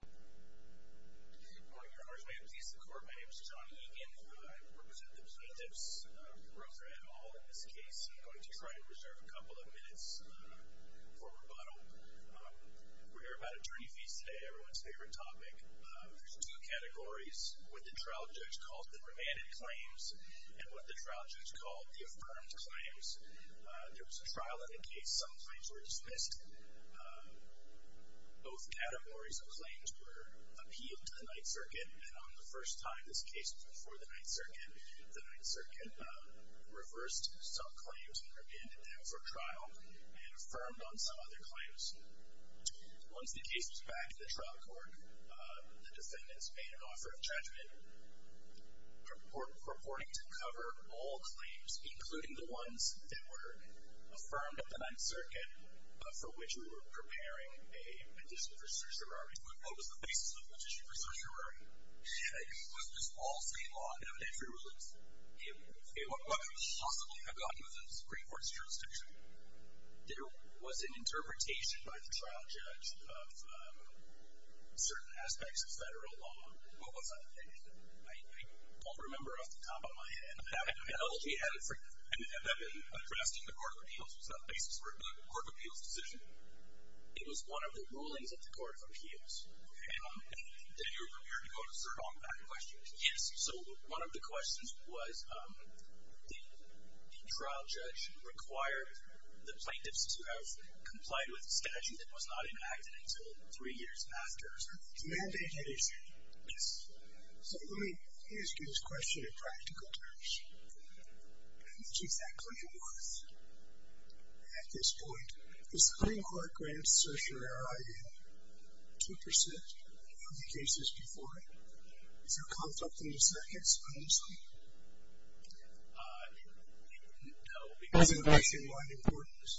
Your Honors May I Please the Court? My name is Johnny Egan I represent the plaintiffs Rother et al in this case I'm going to try and reserve a couple of minutes for rebuttal. We're here about attorney fees today everyone's favorite topic. There's two categories with the trial judge calls them remanded claims, and what the trial judge called the affirmed claims There was a trial in the case some claims were dismissed. Both categories of claims were appealed to the Ninth Circuit and on the first time this case was before the Ninth Circuit, the Ninth Circuit reversed some claims and remanded them for trial and affirmed on some other claims. Once the case was back to the trial court, the defendants made an offer of judgment purporting to cover all claims including the ones that were affirmed at the Ninth Circuit for which we were preparing a petition for certiorari. What was the basis of the petition for certiorari? Was this all state law and evidentiary rulings? What could possibly have gotten into the Supreme Court's jurisdiction? There was an interpretation by the trial judge of certain aspects of federal law. What was that? I don't remember off the top of my head. Have you been addressing the Court of Appeals? Was that the basis for the Court of Appeals decision? It was one of the rulings of the Court of Appeals. And you were prepared to go to serve on that question? Yes. So one of the questions was, did the trial judge require the plaintiffs to have complied with a statute that was not enacted until three years after? It was a mandated issue. Yes. So let me ask you this question in practical terms. Which exactly was? At this point, does the Supreme Court grant certiorari a 2% of the cases before it? Is there conflict in the sentence, honestly? No. Is it of nationwide importance?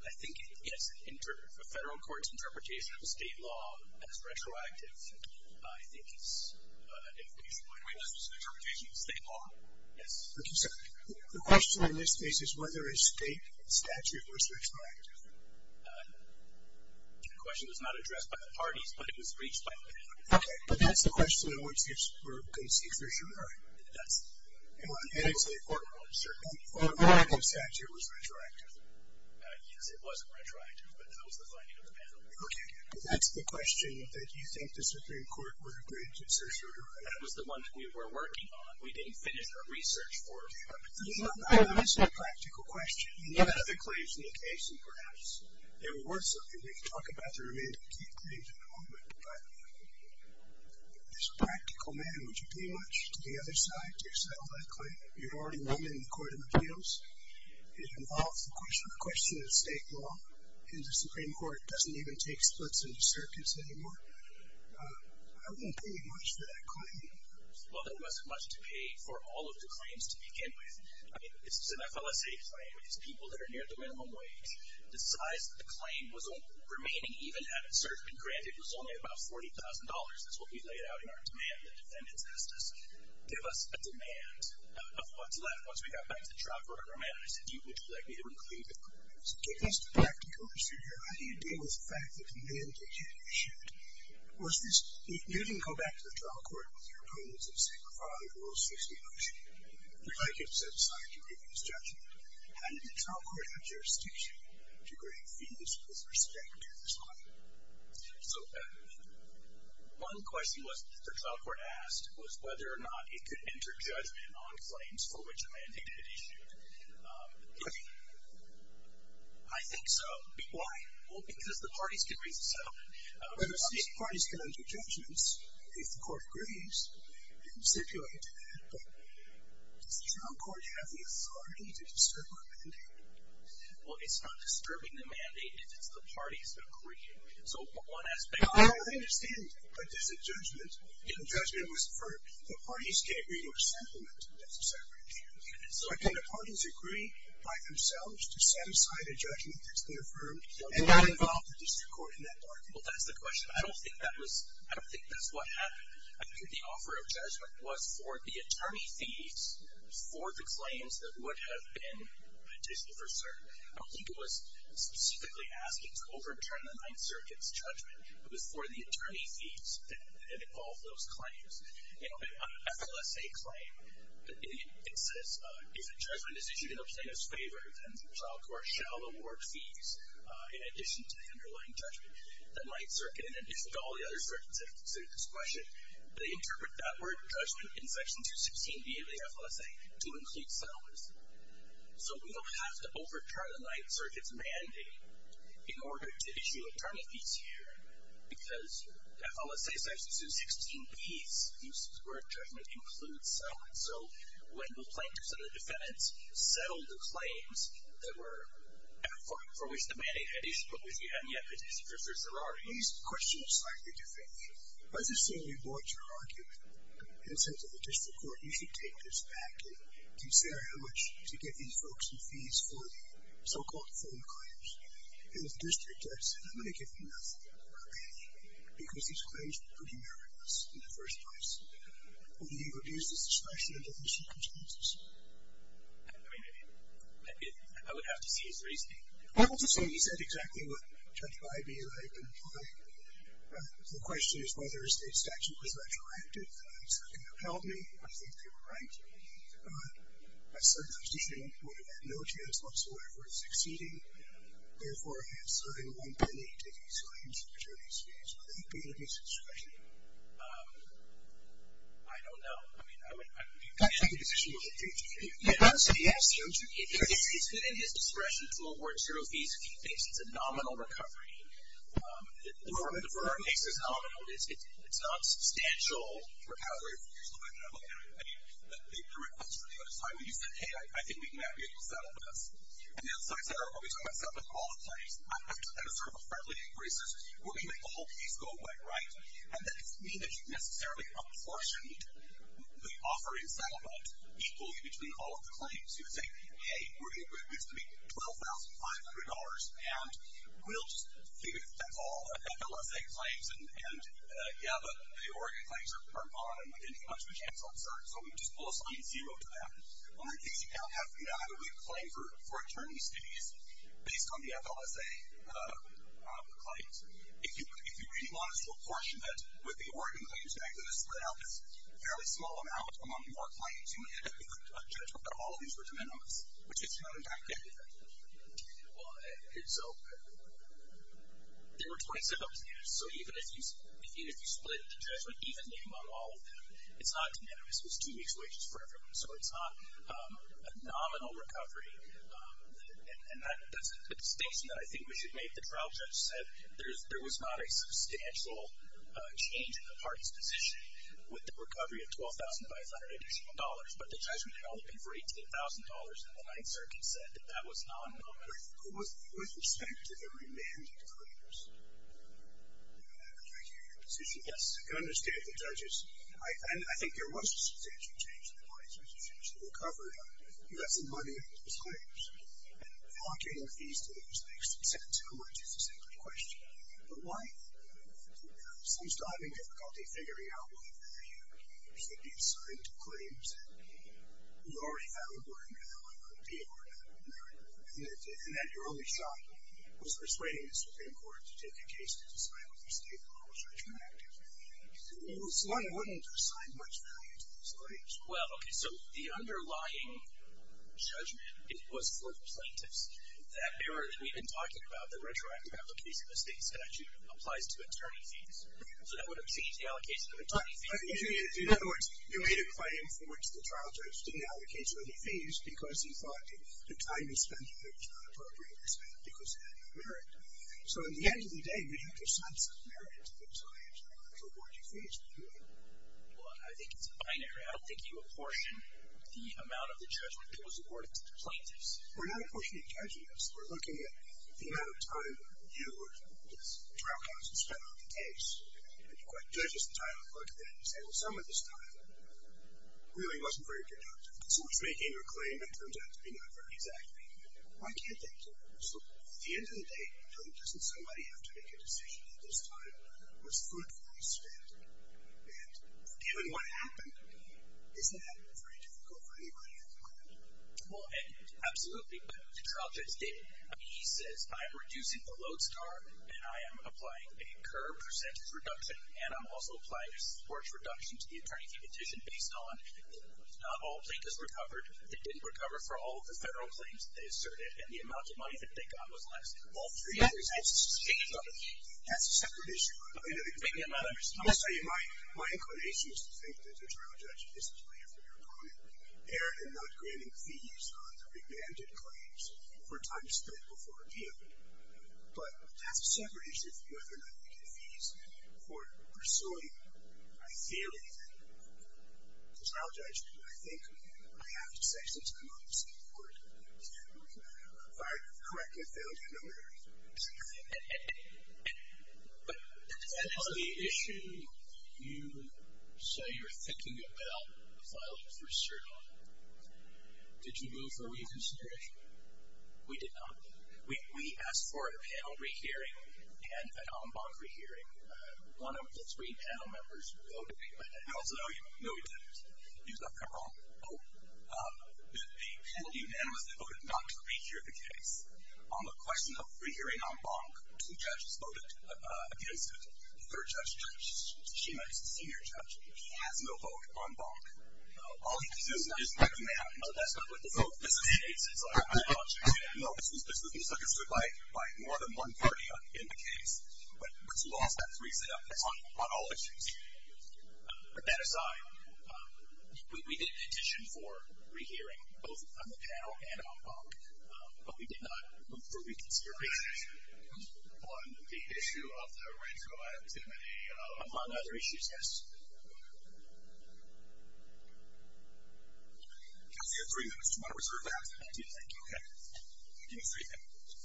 I think it is. The federal court's interpretation of state law as retroactive, I think, is an indication. State law? Yes. The question in this case is whether a state statute was retroactive. The question was not addressed by the parties, but it was reached by the plaintiffs. Okay. But that's the question in which we're going to see certiorari. It does. And it's a formal statute. A formal statute was retroactive. Yes, it was retroactive, but that was the finding of the panel. Okay. But that's the question that you think the Supreme Court would agree to certiorari. That was the one that we were working on. We didn't finish our research for it. You know, this is a practical question. You had other claims in the case, and perhaps they were worth something. We can talk about the remaining key claims in a moment. But as a practical matter, would you pay much to the other side, to settle that claim? You'd already won in the Court of Appeals. It involves the question of state law, and the Supreme Court doesn't even take splits into circuits anymore. I wouldn't pay much for that claim. Well, there wasn't much to pay for all of the claims to begin with. I mean, this is an FLSA claim. It's people that are near the minimum wage. The size of the claim was remaining even had it certainly been granted was only about $40,000. That's what we laid out in our demand. The defendants asked us, give us a demand of what's left. Once we got back to the trial court, our manager said, would you like me to include the claims? So give us the practical procedure. How do you deal with the fact that the mandate had been issued? You didn't go back to the trial court with your opponents and say, we're following the rules. We'd like you to set aside your previous judgment. How did the trial court have jurisdiction to grant fees with respect to this line? So one question the trial court asked was whether or not it could enter judgment on claims for which a mandate had been issued. I think so. Why? Well, because the parties can reach a settlement. Well, obviously, parties can enter judgments if the court agrees. You can stipulate. But does the trial court have the authority to disturb a mandate? Well, it's not disturbing the mandate. It's the party's decree. So one aspect of it. I understand. But is it judgment? If the judgment was for the parties can't reach a settlement, that's a separate issue. Can the parties agree by themselves to set aside a judgment that's been affirmed and not involve the district court in that argument? Well, that's the question. I don't think that's what happened. I think the offer of judgment was for the attorney fees for the claims that would have been petitioned for cert. I don't think it was specifically asking to overturn the Ninth Circuit's judgment. It was for the attorney fees that involved those claims. An FLSA claim, it says if a judgment is issued in the plaintiff's favor, then the trial court shall award fees in addition to the underlying judgment. The Ninth Circuit, in addition to all the other circuits that have considered this question, they interpret that word judgment in Section 216B of the FLSA to include settlements. So we don't have to overturn the Ninth Circuit's mandate in order to issue attorney fees here, because FLSA section 216B's use of the word judgment includes settlements. So when the plaintiffs and the defendants settled the claims that were for which the mandate had issued, but which we haven't yet petitioned for certs that are already issued. These questions are slightly different. Let's just say we brought your argument and said to the district court, you should take this back and consider how much to give these folks in fees for the so-called phone claims. And the district said, I'm going to give you nothing. Okay. Because these claims were pretty meritorious in the first place. Will you reduce the suspicion under these circumstances? I mean, I would have to see his reasoning. I will just say he said exactly what Judge Bybee and I have been implying. The question is whether his state statute was retroactive. It's not going to help me. I think they were right. A certain position would have had no chance whatsoever of succeeding, and therefore he has certainly won by taking some of these fees. Would that be in his discretion? I don't know. I mean, I would think the position would have changed. I would say yes. It's in his discretion to award zero fees if he thinks it's a nominal recovery. The firm thinks it's nominal. It's non-substantial. I mean, the direct question at the other time, he said, hey, I think we may not be able to settle this. And so I said, are we talking about settling all the claims? That is sort of a friendly increase. We're going to make the whole case go away, right? And that doesn't mean that you've necessarily apportioned the offering settlement equally between all of the claims. You would say, hey, we're going to make $12,500, and we'll just think that's all. FLSA claims and, yeah, but the Oregon claims are on, and we didn't get much of a chance on cert, so we would just pull a sign zero to that. Well, in case you don't have a good claim for attorney's fees, based on the FLSA claims, if you really want us to apportion that, with the Oregon claims, you're actually going to split out this fairly small amount among more claims, you may end up with a judgment that all of these were de minimis, which is not, in fact, good. Well, so there were 27 of these, so even if you split the judgment evenly among all of them, it's not de minimis. It's two weeks' wages for everyone, so it's not a nominal recovery, and that's a distinction that I think we should make. The trial judge said there was not a substantial change in the party's position with the recovery of $12,500, but the judgment held it for $18,000, and the Ninth Circuit said that that was not a nominal recovery. With respect to the remanded claims, can I hear your position? Yes. I can understand the judges, and I think there was a substantial change in the party's position with the recovery of less than $1 million in claims, and allocating fees to those makes sense. How much is a simple question. But why? You know, sometimes the difficulty figuring out whether you should be assigned to a court or not, and that your only shot was persuading the Supreme Court to take a case to decide whether to stay in the moral judgment active. It was one willing to assign much value to these claims. Well, okay, so the underlying judgment was for the plaintiffs. That error that we've been talking about, the retroactive allocation of estate statute, applies to attorney fees. So that would have changed the allocation of attorney fees. In other words, you made a claim for which the trial judge didn't allocate you any fees, because he thought the time you spent in there was not appropriate, because it had no merit. So at the end of the day, you had to assign some merit to the client in order to award you fees, didn't you? Well, I think it's a binary. I think you apportion the amount of the judgment that was awarded to the plaintiffs. We're not apportioning judgments. We're looking at the amount of time you or this trial counsel spent on the case. And you quite judge this time and look at that and say, well, some of this time really wasn't very productive. So it's making a claim that turns out to be not very exact. Why do you think so? At the end of the day, doesn't somebody have to make a decision that this time was fruitfully spent? And given what happened, isn't that very difficult for anybody at the client? Well, absolutely. The trial judge did. He says, I'm reducing the load star, and I am applying a curve percentage reduction, and I'm also applying a scorch reduction to the attorney fee petition based on not all plaintiffs recovered. They didn't recover for all of the federal claims that they asserted, and the amount of money that they got was less. All three of those. That's a separate issue. My inclination is to think that the trial judge is a player for your opponent, errant in not granting fees on the remanded claims for time spent before appeal. But that's a separate issue of whether or not you get fees for pursuing a claim. The trial judge, I think, I have to say since I'm on the Supreme Court, if I correct your failure, no matter what, I'm sorry. That is the issue you say you're thinking about filing for a cert on. Did you move for reconsideration? We asked for a panel re-hearing and an en banc re-hearing. One of the three panel members voted. I also know you. No, he didn't. You left him wrong. The panel unanimously voted not to re-hear the case. On the question of re-hearing en banc, two judges voted against it. The third judge, Shema is the senior judge. He has no vote en banc. All he does is recommend. That's not what the vote facilitates. I know this was misunderstood by more than one party in the case, but what's lost, that's on all issues. Put that aside, we did petition for re-hearing, both on the panel and en banc, but we did not move for reconsideration. On the issue of the retroactivity. Among other issues, yes. You have three minutes. Do you want to reserve that? I do, thank you. Okay. Give me three minutes. Thank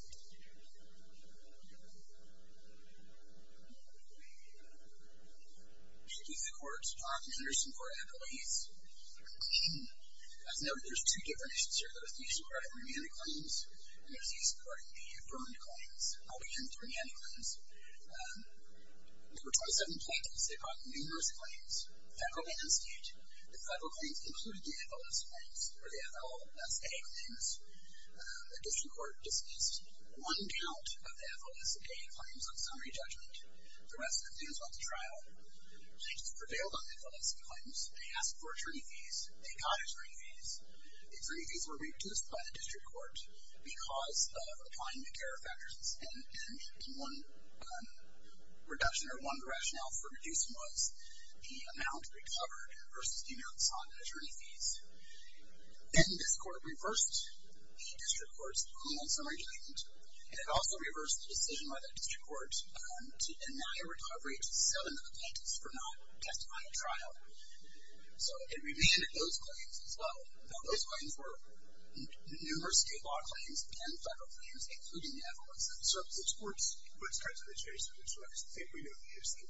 you. Thank you to the court. I'm Anderson for appellees. As noted, there's two different issues here. There's the use of credit remand claims, and there's the use of credit in the affirmed claims. I'll begin with remand claims. There were 27 plaintiffs. They brought numerous claims. Federal and state. The federal claims included the FLSA claims. The district court dismissed one count of the FLSA claims on summary judgment. The rest of the claims went to trial. Plaintiffs prevailed on the FLSA claims. They asked for attorney fees. They got attorney fees. The attorney fees were reduced by the district court because of appointment care factors. One reduction or one rationale for reducing was the amount recovered versus the amounts on attorney fees. Then this court reversed the district court's ruling on summary judgment, and it also reversed the decision by the district court to deny a recovery to seven of the plaintiffs for not testifying at trial. So it remanded those claims as well. Those claims were numerous state law claims and federal claims, including the FLSA. So which courts are they chasing? Which courts do you think we should be using?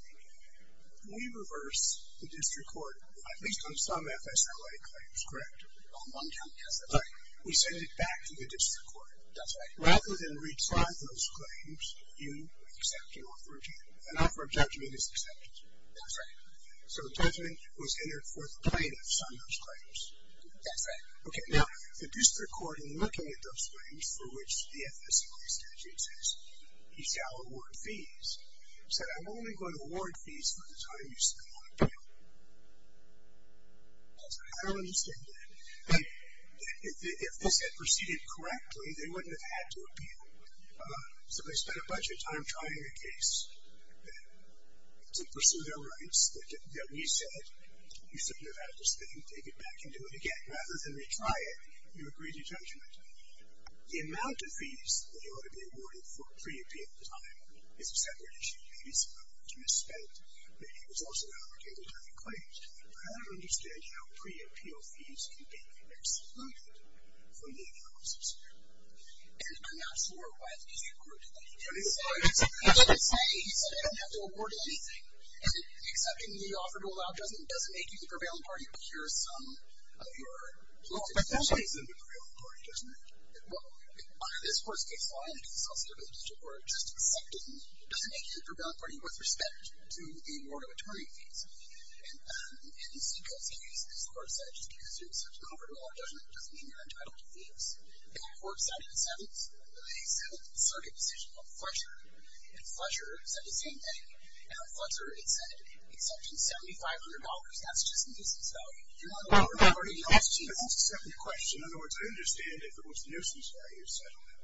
We reverse the district court, at least on some FSRA claims, correct? On one count, yes. We send it back to the district court. That's right. Rather than retry those claims, you accept an offer of judgment. An offer of judgment is acceptance. That's right. So judgment was entered for the plaintiffs on those claims. That's right. Okay, now, the district court, in looking at those claims for which the FSRA statute says you shall award fees, said, I'm only going to award fees for the time you spend on a claim. That's right. I don't understand that. If this had proceeded correctly, they wouldn't have had to appeal. So they spent a bunch of time trying a case to pursue their rights that we said, you shouldn't have had to spend, take it back, and do it again. Rather than retry it, you agree to judgment. The amount of fees that ought to be awarded for pre-appeal time is a separate issue. You need some money to misspend. But it was also allocated on the claims. I don't understand how pre-appeal fees can be excluded from the cost of scrutiny. And I'm not sure why the district court did that. He didn't say, he said, I don't have to award anything. And accepting the offer to allow judgment doesn't make you the prevailing party to procure some of your posted fees. Well, but that doesn't make them the prevailing party, does it? Well, under this court's case law, and it is also under the district court, just accepting doesn't make you the prevailing party with respect to the award of attorney fees. And in the Seacrest case, this court said just because you accepted an offer to allow judgment doesn't mean you're entitled to fees. The court said in the seventh, they settled the circuit decision on Fletcher. And Fletcher said the same thing. And on Fletcher, it said, except in $7,500, that's just a nuisance value. You're not the prevailing party. That's a separate question. In other words, I understand if it was a nuisance value settlement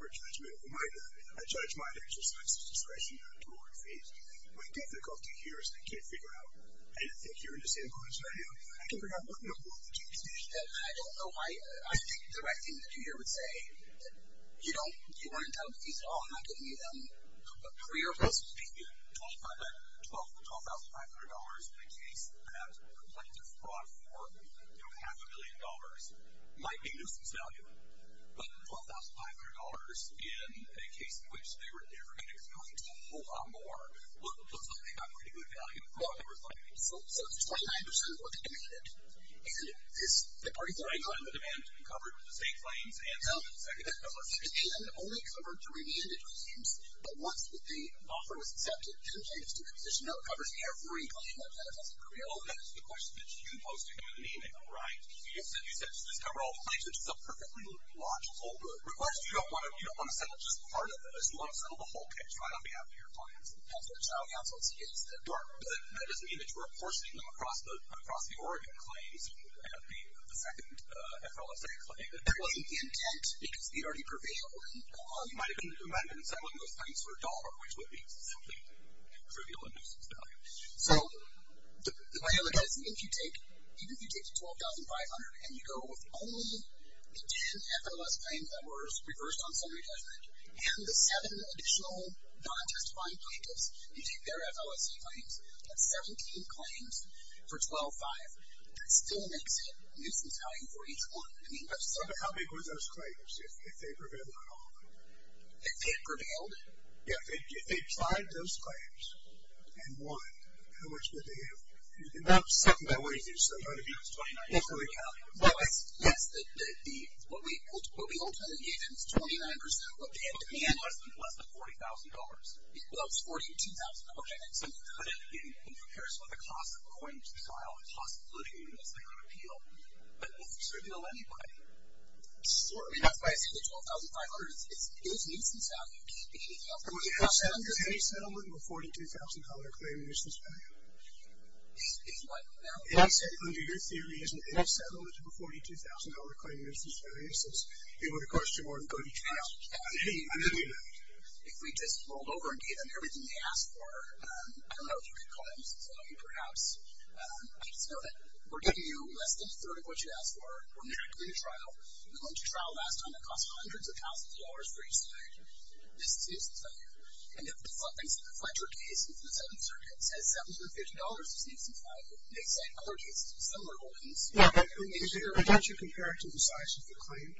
for judgment. It might not be. A judge might exercise discretion to award fees. My difficulty here is I can't figure out, I don't think you understand what I'm saying. I don't know. I think the right thing to do here would say, you know, you weren't entitled to fees at all. I'm not giving you a career of lessons. $12,500 in a case that complains of fraud for half a million dollars might be a nuisance value. But $12,500 in a case in which they were never going to go into a whole lot more, looks like they got pretty good value. So it's 29% of what they demanded. And the demand has been covered with the state claims and the secondary claims. The demand only covered three mandated claims, but once the offer was accepted, it changed to the position that it covers every claim that benefits a career. Well, that is the question that you posed to me in the email, right? You said it should just cover all the claims, which is a perfectly logical request. You don't want to settle just part of it. You want to settle the whole case right on behalf of your clients. That's what child counsel is. That doesn't mean that you're apportioning them across the Oregon claims and the second FLSA claim. That wasn't the intent, because they'd already prevailed in Omaha. You might have been demanding and settling those claims for a dollar, which would be something trivial and a nuisance value. So the way I look at it is, even if you take the $12,500 and you go with only the 10 FLSA claims that were reversed on summary judgment, and the seven additional non-testifying plaintiffs who take their FLSA claims, that's 17 claims for $12,500. That still makes it a nuisance value for each one. But how big were those claims if they prevailed on all of them? If they prevailed? Yeah, if they applied those claims and won, how much would they have? And that was something I wanted you to say. I would have used $29,500. Yes, what we ultimately gave them was 29%. What we gave them was less than $40,000. Well, it was $42,000. So you could have, in comparison with the cost of going to the file, the cost of looting, you could have said, I'm going to appeal. But will this appeal anybody? Certainly. That's why I said the $12,500. It was a nuisance value. It can't be anything else. And would you have settled any settlement with a $42,000 claim, a nuisance value? If what? If I said under your theory, isn't any settlement with a $42,000 claim a nuisance value? Since it would have cost you more than going to trial. No. I didn't mean that. If we just rolled over and gave them everything they asked for, I don't know if you could call it a nuisance value, perhaps. I just know that we're giving you less than a third of what you asked for. We're not going to trial. We went to trial last time. It cost hundreds of thousands of dollars for each side. This is a nuisance value. And if something's in the Fletcher case, since the Seventh Circuit says $750 is a nuisance value, they said other cases of similar holdings. Yeah, but don't you compare it to the size of the claim?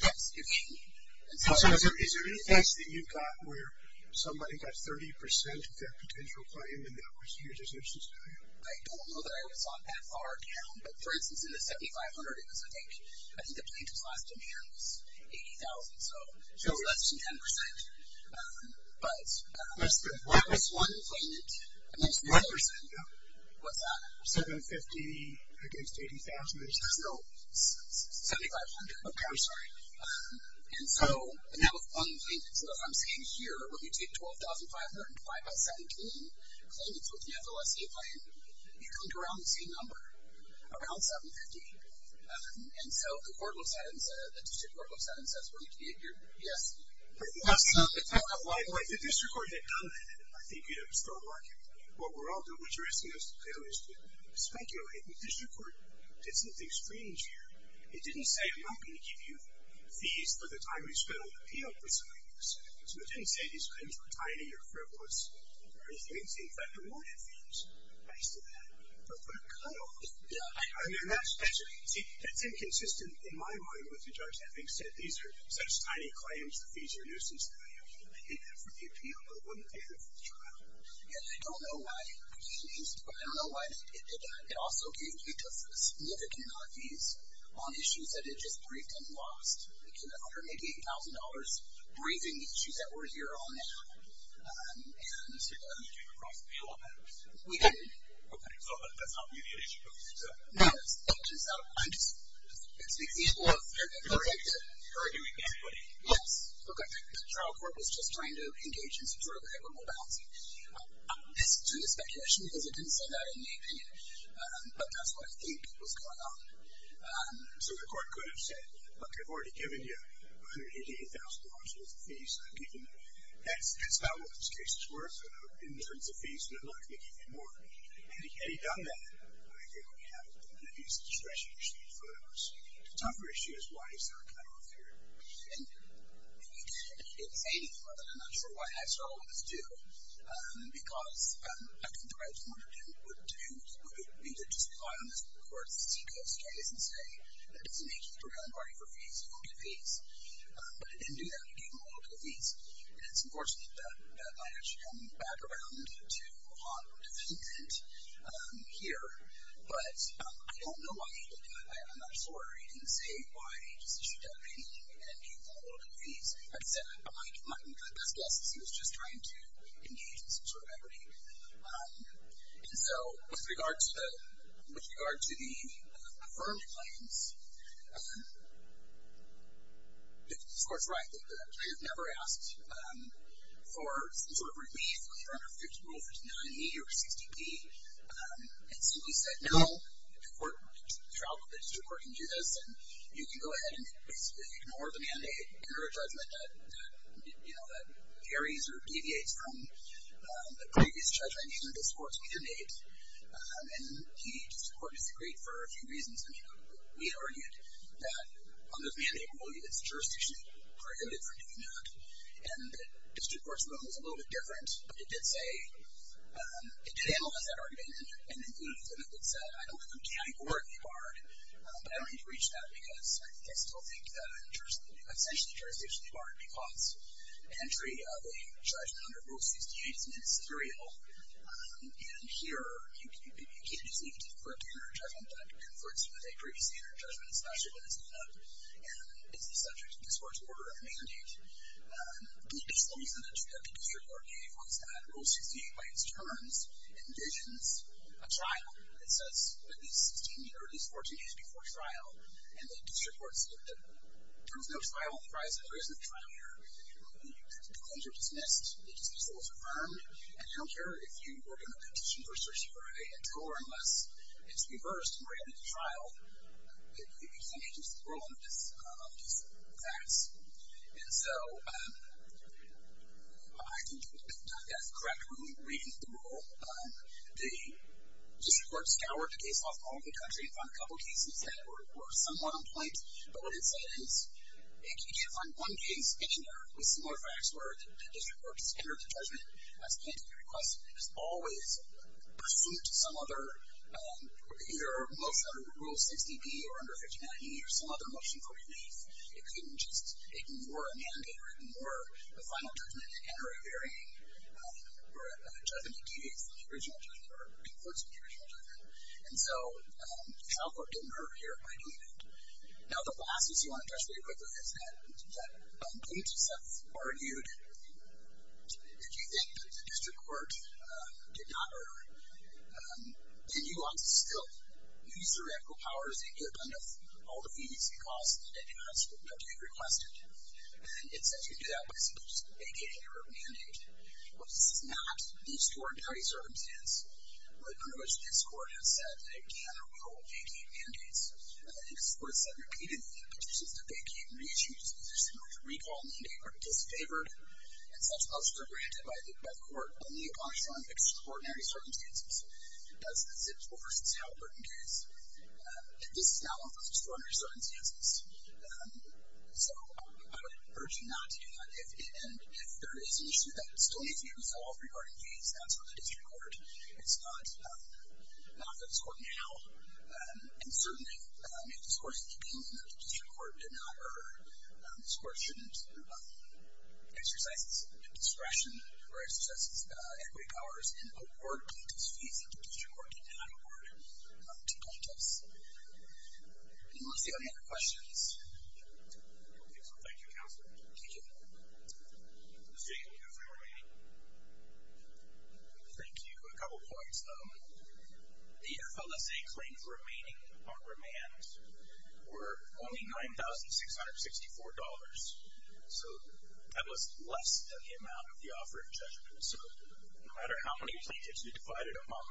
Yes, you can. So is there any case that you got where somebody got 30% of their potential claim, and that was your nuisance value? I don't know that I was on that far account. But, for instance, in the $7,500, it was a danger. I think the plaintiff's last demand was $80,000, so it was less than 10%. Less than what? That was one plaintiff. Less than what? What's that? $750 against $80,000. No, $7,500. Okay, I'm sorry. And that was one plaintiff. So as I'm seeing here, when you take $12,500 and divide by 17, claimants with an FLSA claim, you come to around the same number, around $750. And so the court looks at it and says, Yes. If the district court had done that, I think you'd have a strong market. What we're all doing, what you're asking us to do is to speculate. If the district court did something strange here, it didn't say I'm not going to give you fees for the time you spent on the appeal for something like this. So it didn't say these claims were tiny or frivolous or anything. It said, in fact, awarded fees. Thanks to that. But what a cutoff. See, it's inconsistent in my mind with the judge having said these are such tiny claims to fees or nuisance. I hate that for the appeal, but I wouldn't hate it for the trial. And I don't know why. I don't know why it did that. It also gave you a significant amount of fees on issues that it just briefed and lost. Under maybe $8,000, briefing the issues that were here on that. So you came across the appeal on that? We did. Okay. So that's not immediate issue? No, it's not. It's the appeal of the verdict. You're arguing that? Yes. Okay. The trial court was just trying to engage in some sort of equitable balancing. It's due to speculation because it didn't say that in the opinion. But that's what I think was going on. So the court could have said, look, I've already given you $188,000 worth of fees. That's about what this case is worth in terms of fees, and I'm not going to give you more. Had he done that, I think we would have at least discretionary street photos. The tougher issue is why he's not coming off here. And you can't say anything other than that's sort of why I struggle with this, too. Because I think the right thing to do would be to just rely on this court's CEQA status and say, that doesn't make you the programming party for fees, you won't get fees. But it didn't do that. It gave them a little bit of fees. And it's unfortunate that that might actually come back around to a more moderate defendant here. But I don't know why he didn't do it. I'm not sure he didn't say why he just issued that opinion, and gave them a little bit of fees. I'd say it might have been for the best guess. He was just trying to engage in some sort of equity. And so with regard to the affirmed claims, the court's right that I have never asked for some sort of relief under fixed rule 59E or 60P. And so he said, no, the court can travel, the district court can do this. And you can go ahead and ignore the mandate, ignore a judgment that, you know, that carries or deviates from the previous judgment in this court's view made. And the district court disagreed for a few reasons. I mean, we argued that under the mandate rule, it's jurisdictionally prohibited from doing that. And the district court's ruling was a little bit different, but it did say, it did analyze that argument, and included it in what it said. I don't know who categorically barred, but I don't need to reach that because I still think that essentially jurisdictionally barred because entry of a judgment under rule 68 is not necessarily illegal. And here, you can't just leave it to the court to enter a judgment that conflicts with a previously entered judgment, especially when it's not. And it's the subject of this court's order of mandate. The exclusive entry that the district court gave was that rule 68, by its terms, envisions a trial. It says at least 16 years, at least 14 years before trial, and the district court's limited. There is no trial on the grounds that there isn't a trial here. The claims are dismissed. The disputes are affirmed. And I don't care if you work on a petition for a search warrant until or unless it's reversed and ready for trial. You can't just rule on these facts. And so I think that's the correct way of reading the rule. The district court scoured the case law from all over the country and found a couple of cases that were somewhat on point. But what it said is you can't find one case anywhere with similar facts where the district court has entered the judgment as pending a request and has always pursued some other either motion under Rule 60B or under 59E or some other motion for relief. It couldn't just ignore a mandate or ignore a final judgment and enter a very judgment that deviates from the original judgment or conflicts with the original judgment. And so the trial court didn't hurt here. I believe it. Now, the last piece I want to touch very quickly is that if you think that the district court did not hurt, then you want to still use the radical powers and get rid of all the fees and costs that you have to be requested. And it says you can do that by submitting a vacating or a mandate. Well, this is not the scoring party circumstance. Pretty much this court has said that it can or will vacate mandates. And this court has said repeatedly in petitions that they can't reissue because there's too much recall mandate or disfavored, and such costs are granted by the court only upon extraordinary circumstances. That's the Zipps-Forst-Talbert case. And this is not one of those extraordinary circumstances. So I would urge you not to do that. And if there is an issue that still needs to be resolved regarding fees, that's for the district court. It's not for this court now. And certainly, if this court is appealing to the district court and not her, this court shouldn't exercise its discretion or exercise its equity powers in awarding these fees if the district court did not award them to plaintiffs. Let's see, are there any other questions? Okay, so thank you, Counselor. Thank you. Ms. Jacobs, are you remaining? Thank you. A couple points. The FLSA claims remaining on remand were only $9,664. So that was less than the amount of the offer of judgment. So no matter how many plaintiffs you divided among,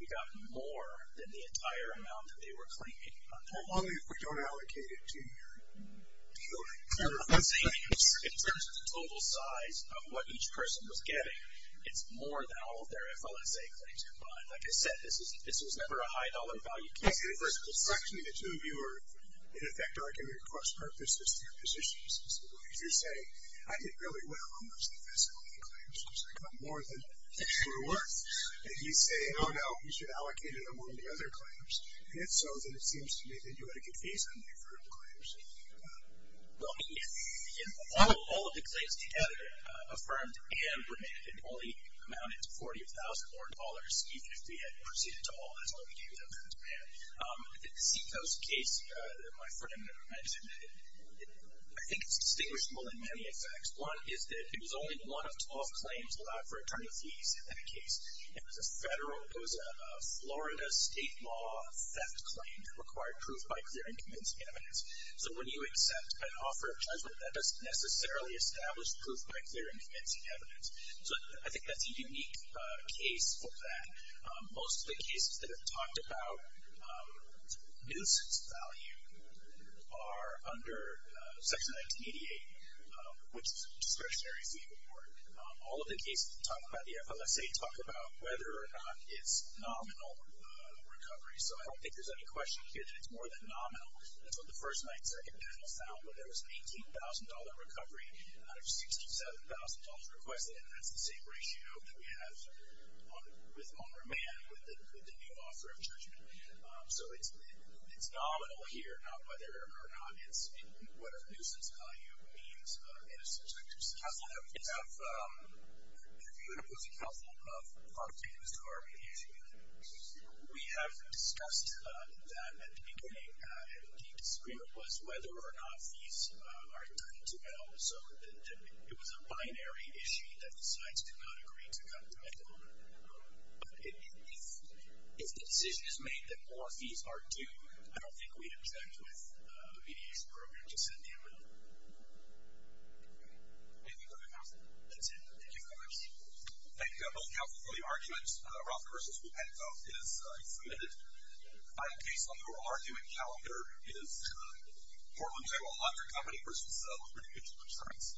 you got more than the entire amount that they were claiming. Well, only if we don't allocate it to you. In terms of the total size of what each person was getting, it's more than all of their FLSA claims combined. Like I said, this was never a high-dollar value case. Actually, the two of you are, in effect, arguing cross-purposes in your positions. You're saying, I did really well on most of the FSLA claims, which I got more than they were worth. And you say, oh, no, we should allocate it among the other claims. And it's so that it seems to me that you had a good reason to defer the claims. Well, all of the claims together, affirmed and remanded, only amounted to $40,000 more even if we had proceeded to all as long as we gave them to them. The Seacoast case that my friend mentioned, I think it's distinguishable in many effects. One is that it was only one of 12 claims allowed for attorney fees in that case. It was a Florida state law theft claim that required proof by clear and convincing evidence. So when you accept an offer of judgment, that doesn't necessarily establish proof by clear and convincing evidence. So I think that's a unique case for that. Most of the cases that have talked about nuisance value are under Section 1988, which is discretionary fee report. All of the cases that talk about the FLSA talk about whether or not it's nominal recovery. So I don't think there's any question here that it's more than nominal. That's what the first and second panel found, where there was $18,000 recovery out of $67,000 requested, and that's the same ratio that we have with on remand, with the new offer of judgment. So it's nominal here, not whether or not it's whatever nuisance value means in a subjective sense. Counselor, we have an opinion, and it was a counselor of our mediation unit. We have discussed that at the beginning, and what he disagreed with was whether or not fees are due. So it was a binary issue that the sides did not agree to come to a settlement. But if the decision is made that more fees are due, I don't think we'd object with a mediation program to send the amount. Anything further, Counselor? That's it. Thank you very much. Thank you both, Counselor, for the argument. Roth versus Penco is submitted. Final case on the oral argument calendar is Portland Table Laundry Company versus Liberty Mutual Insurance.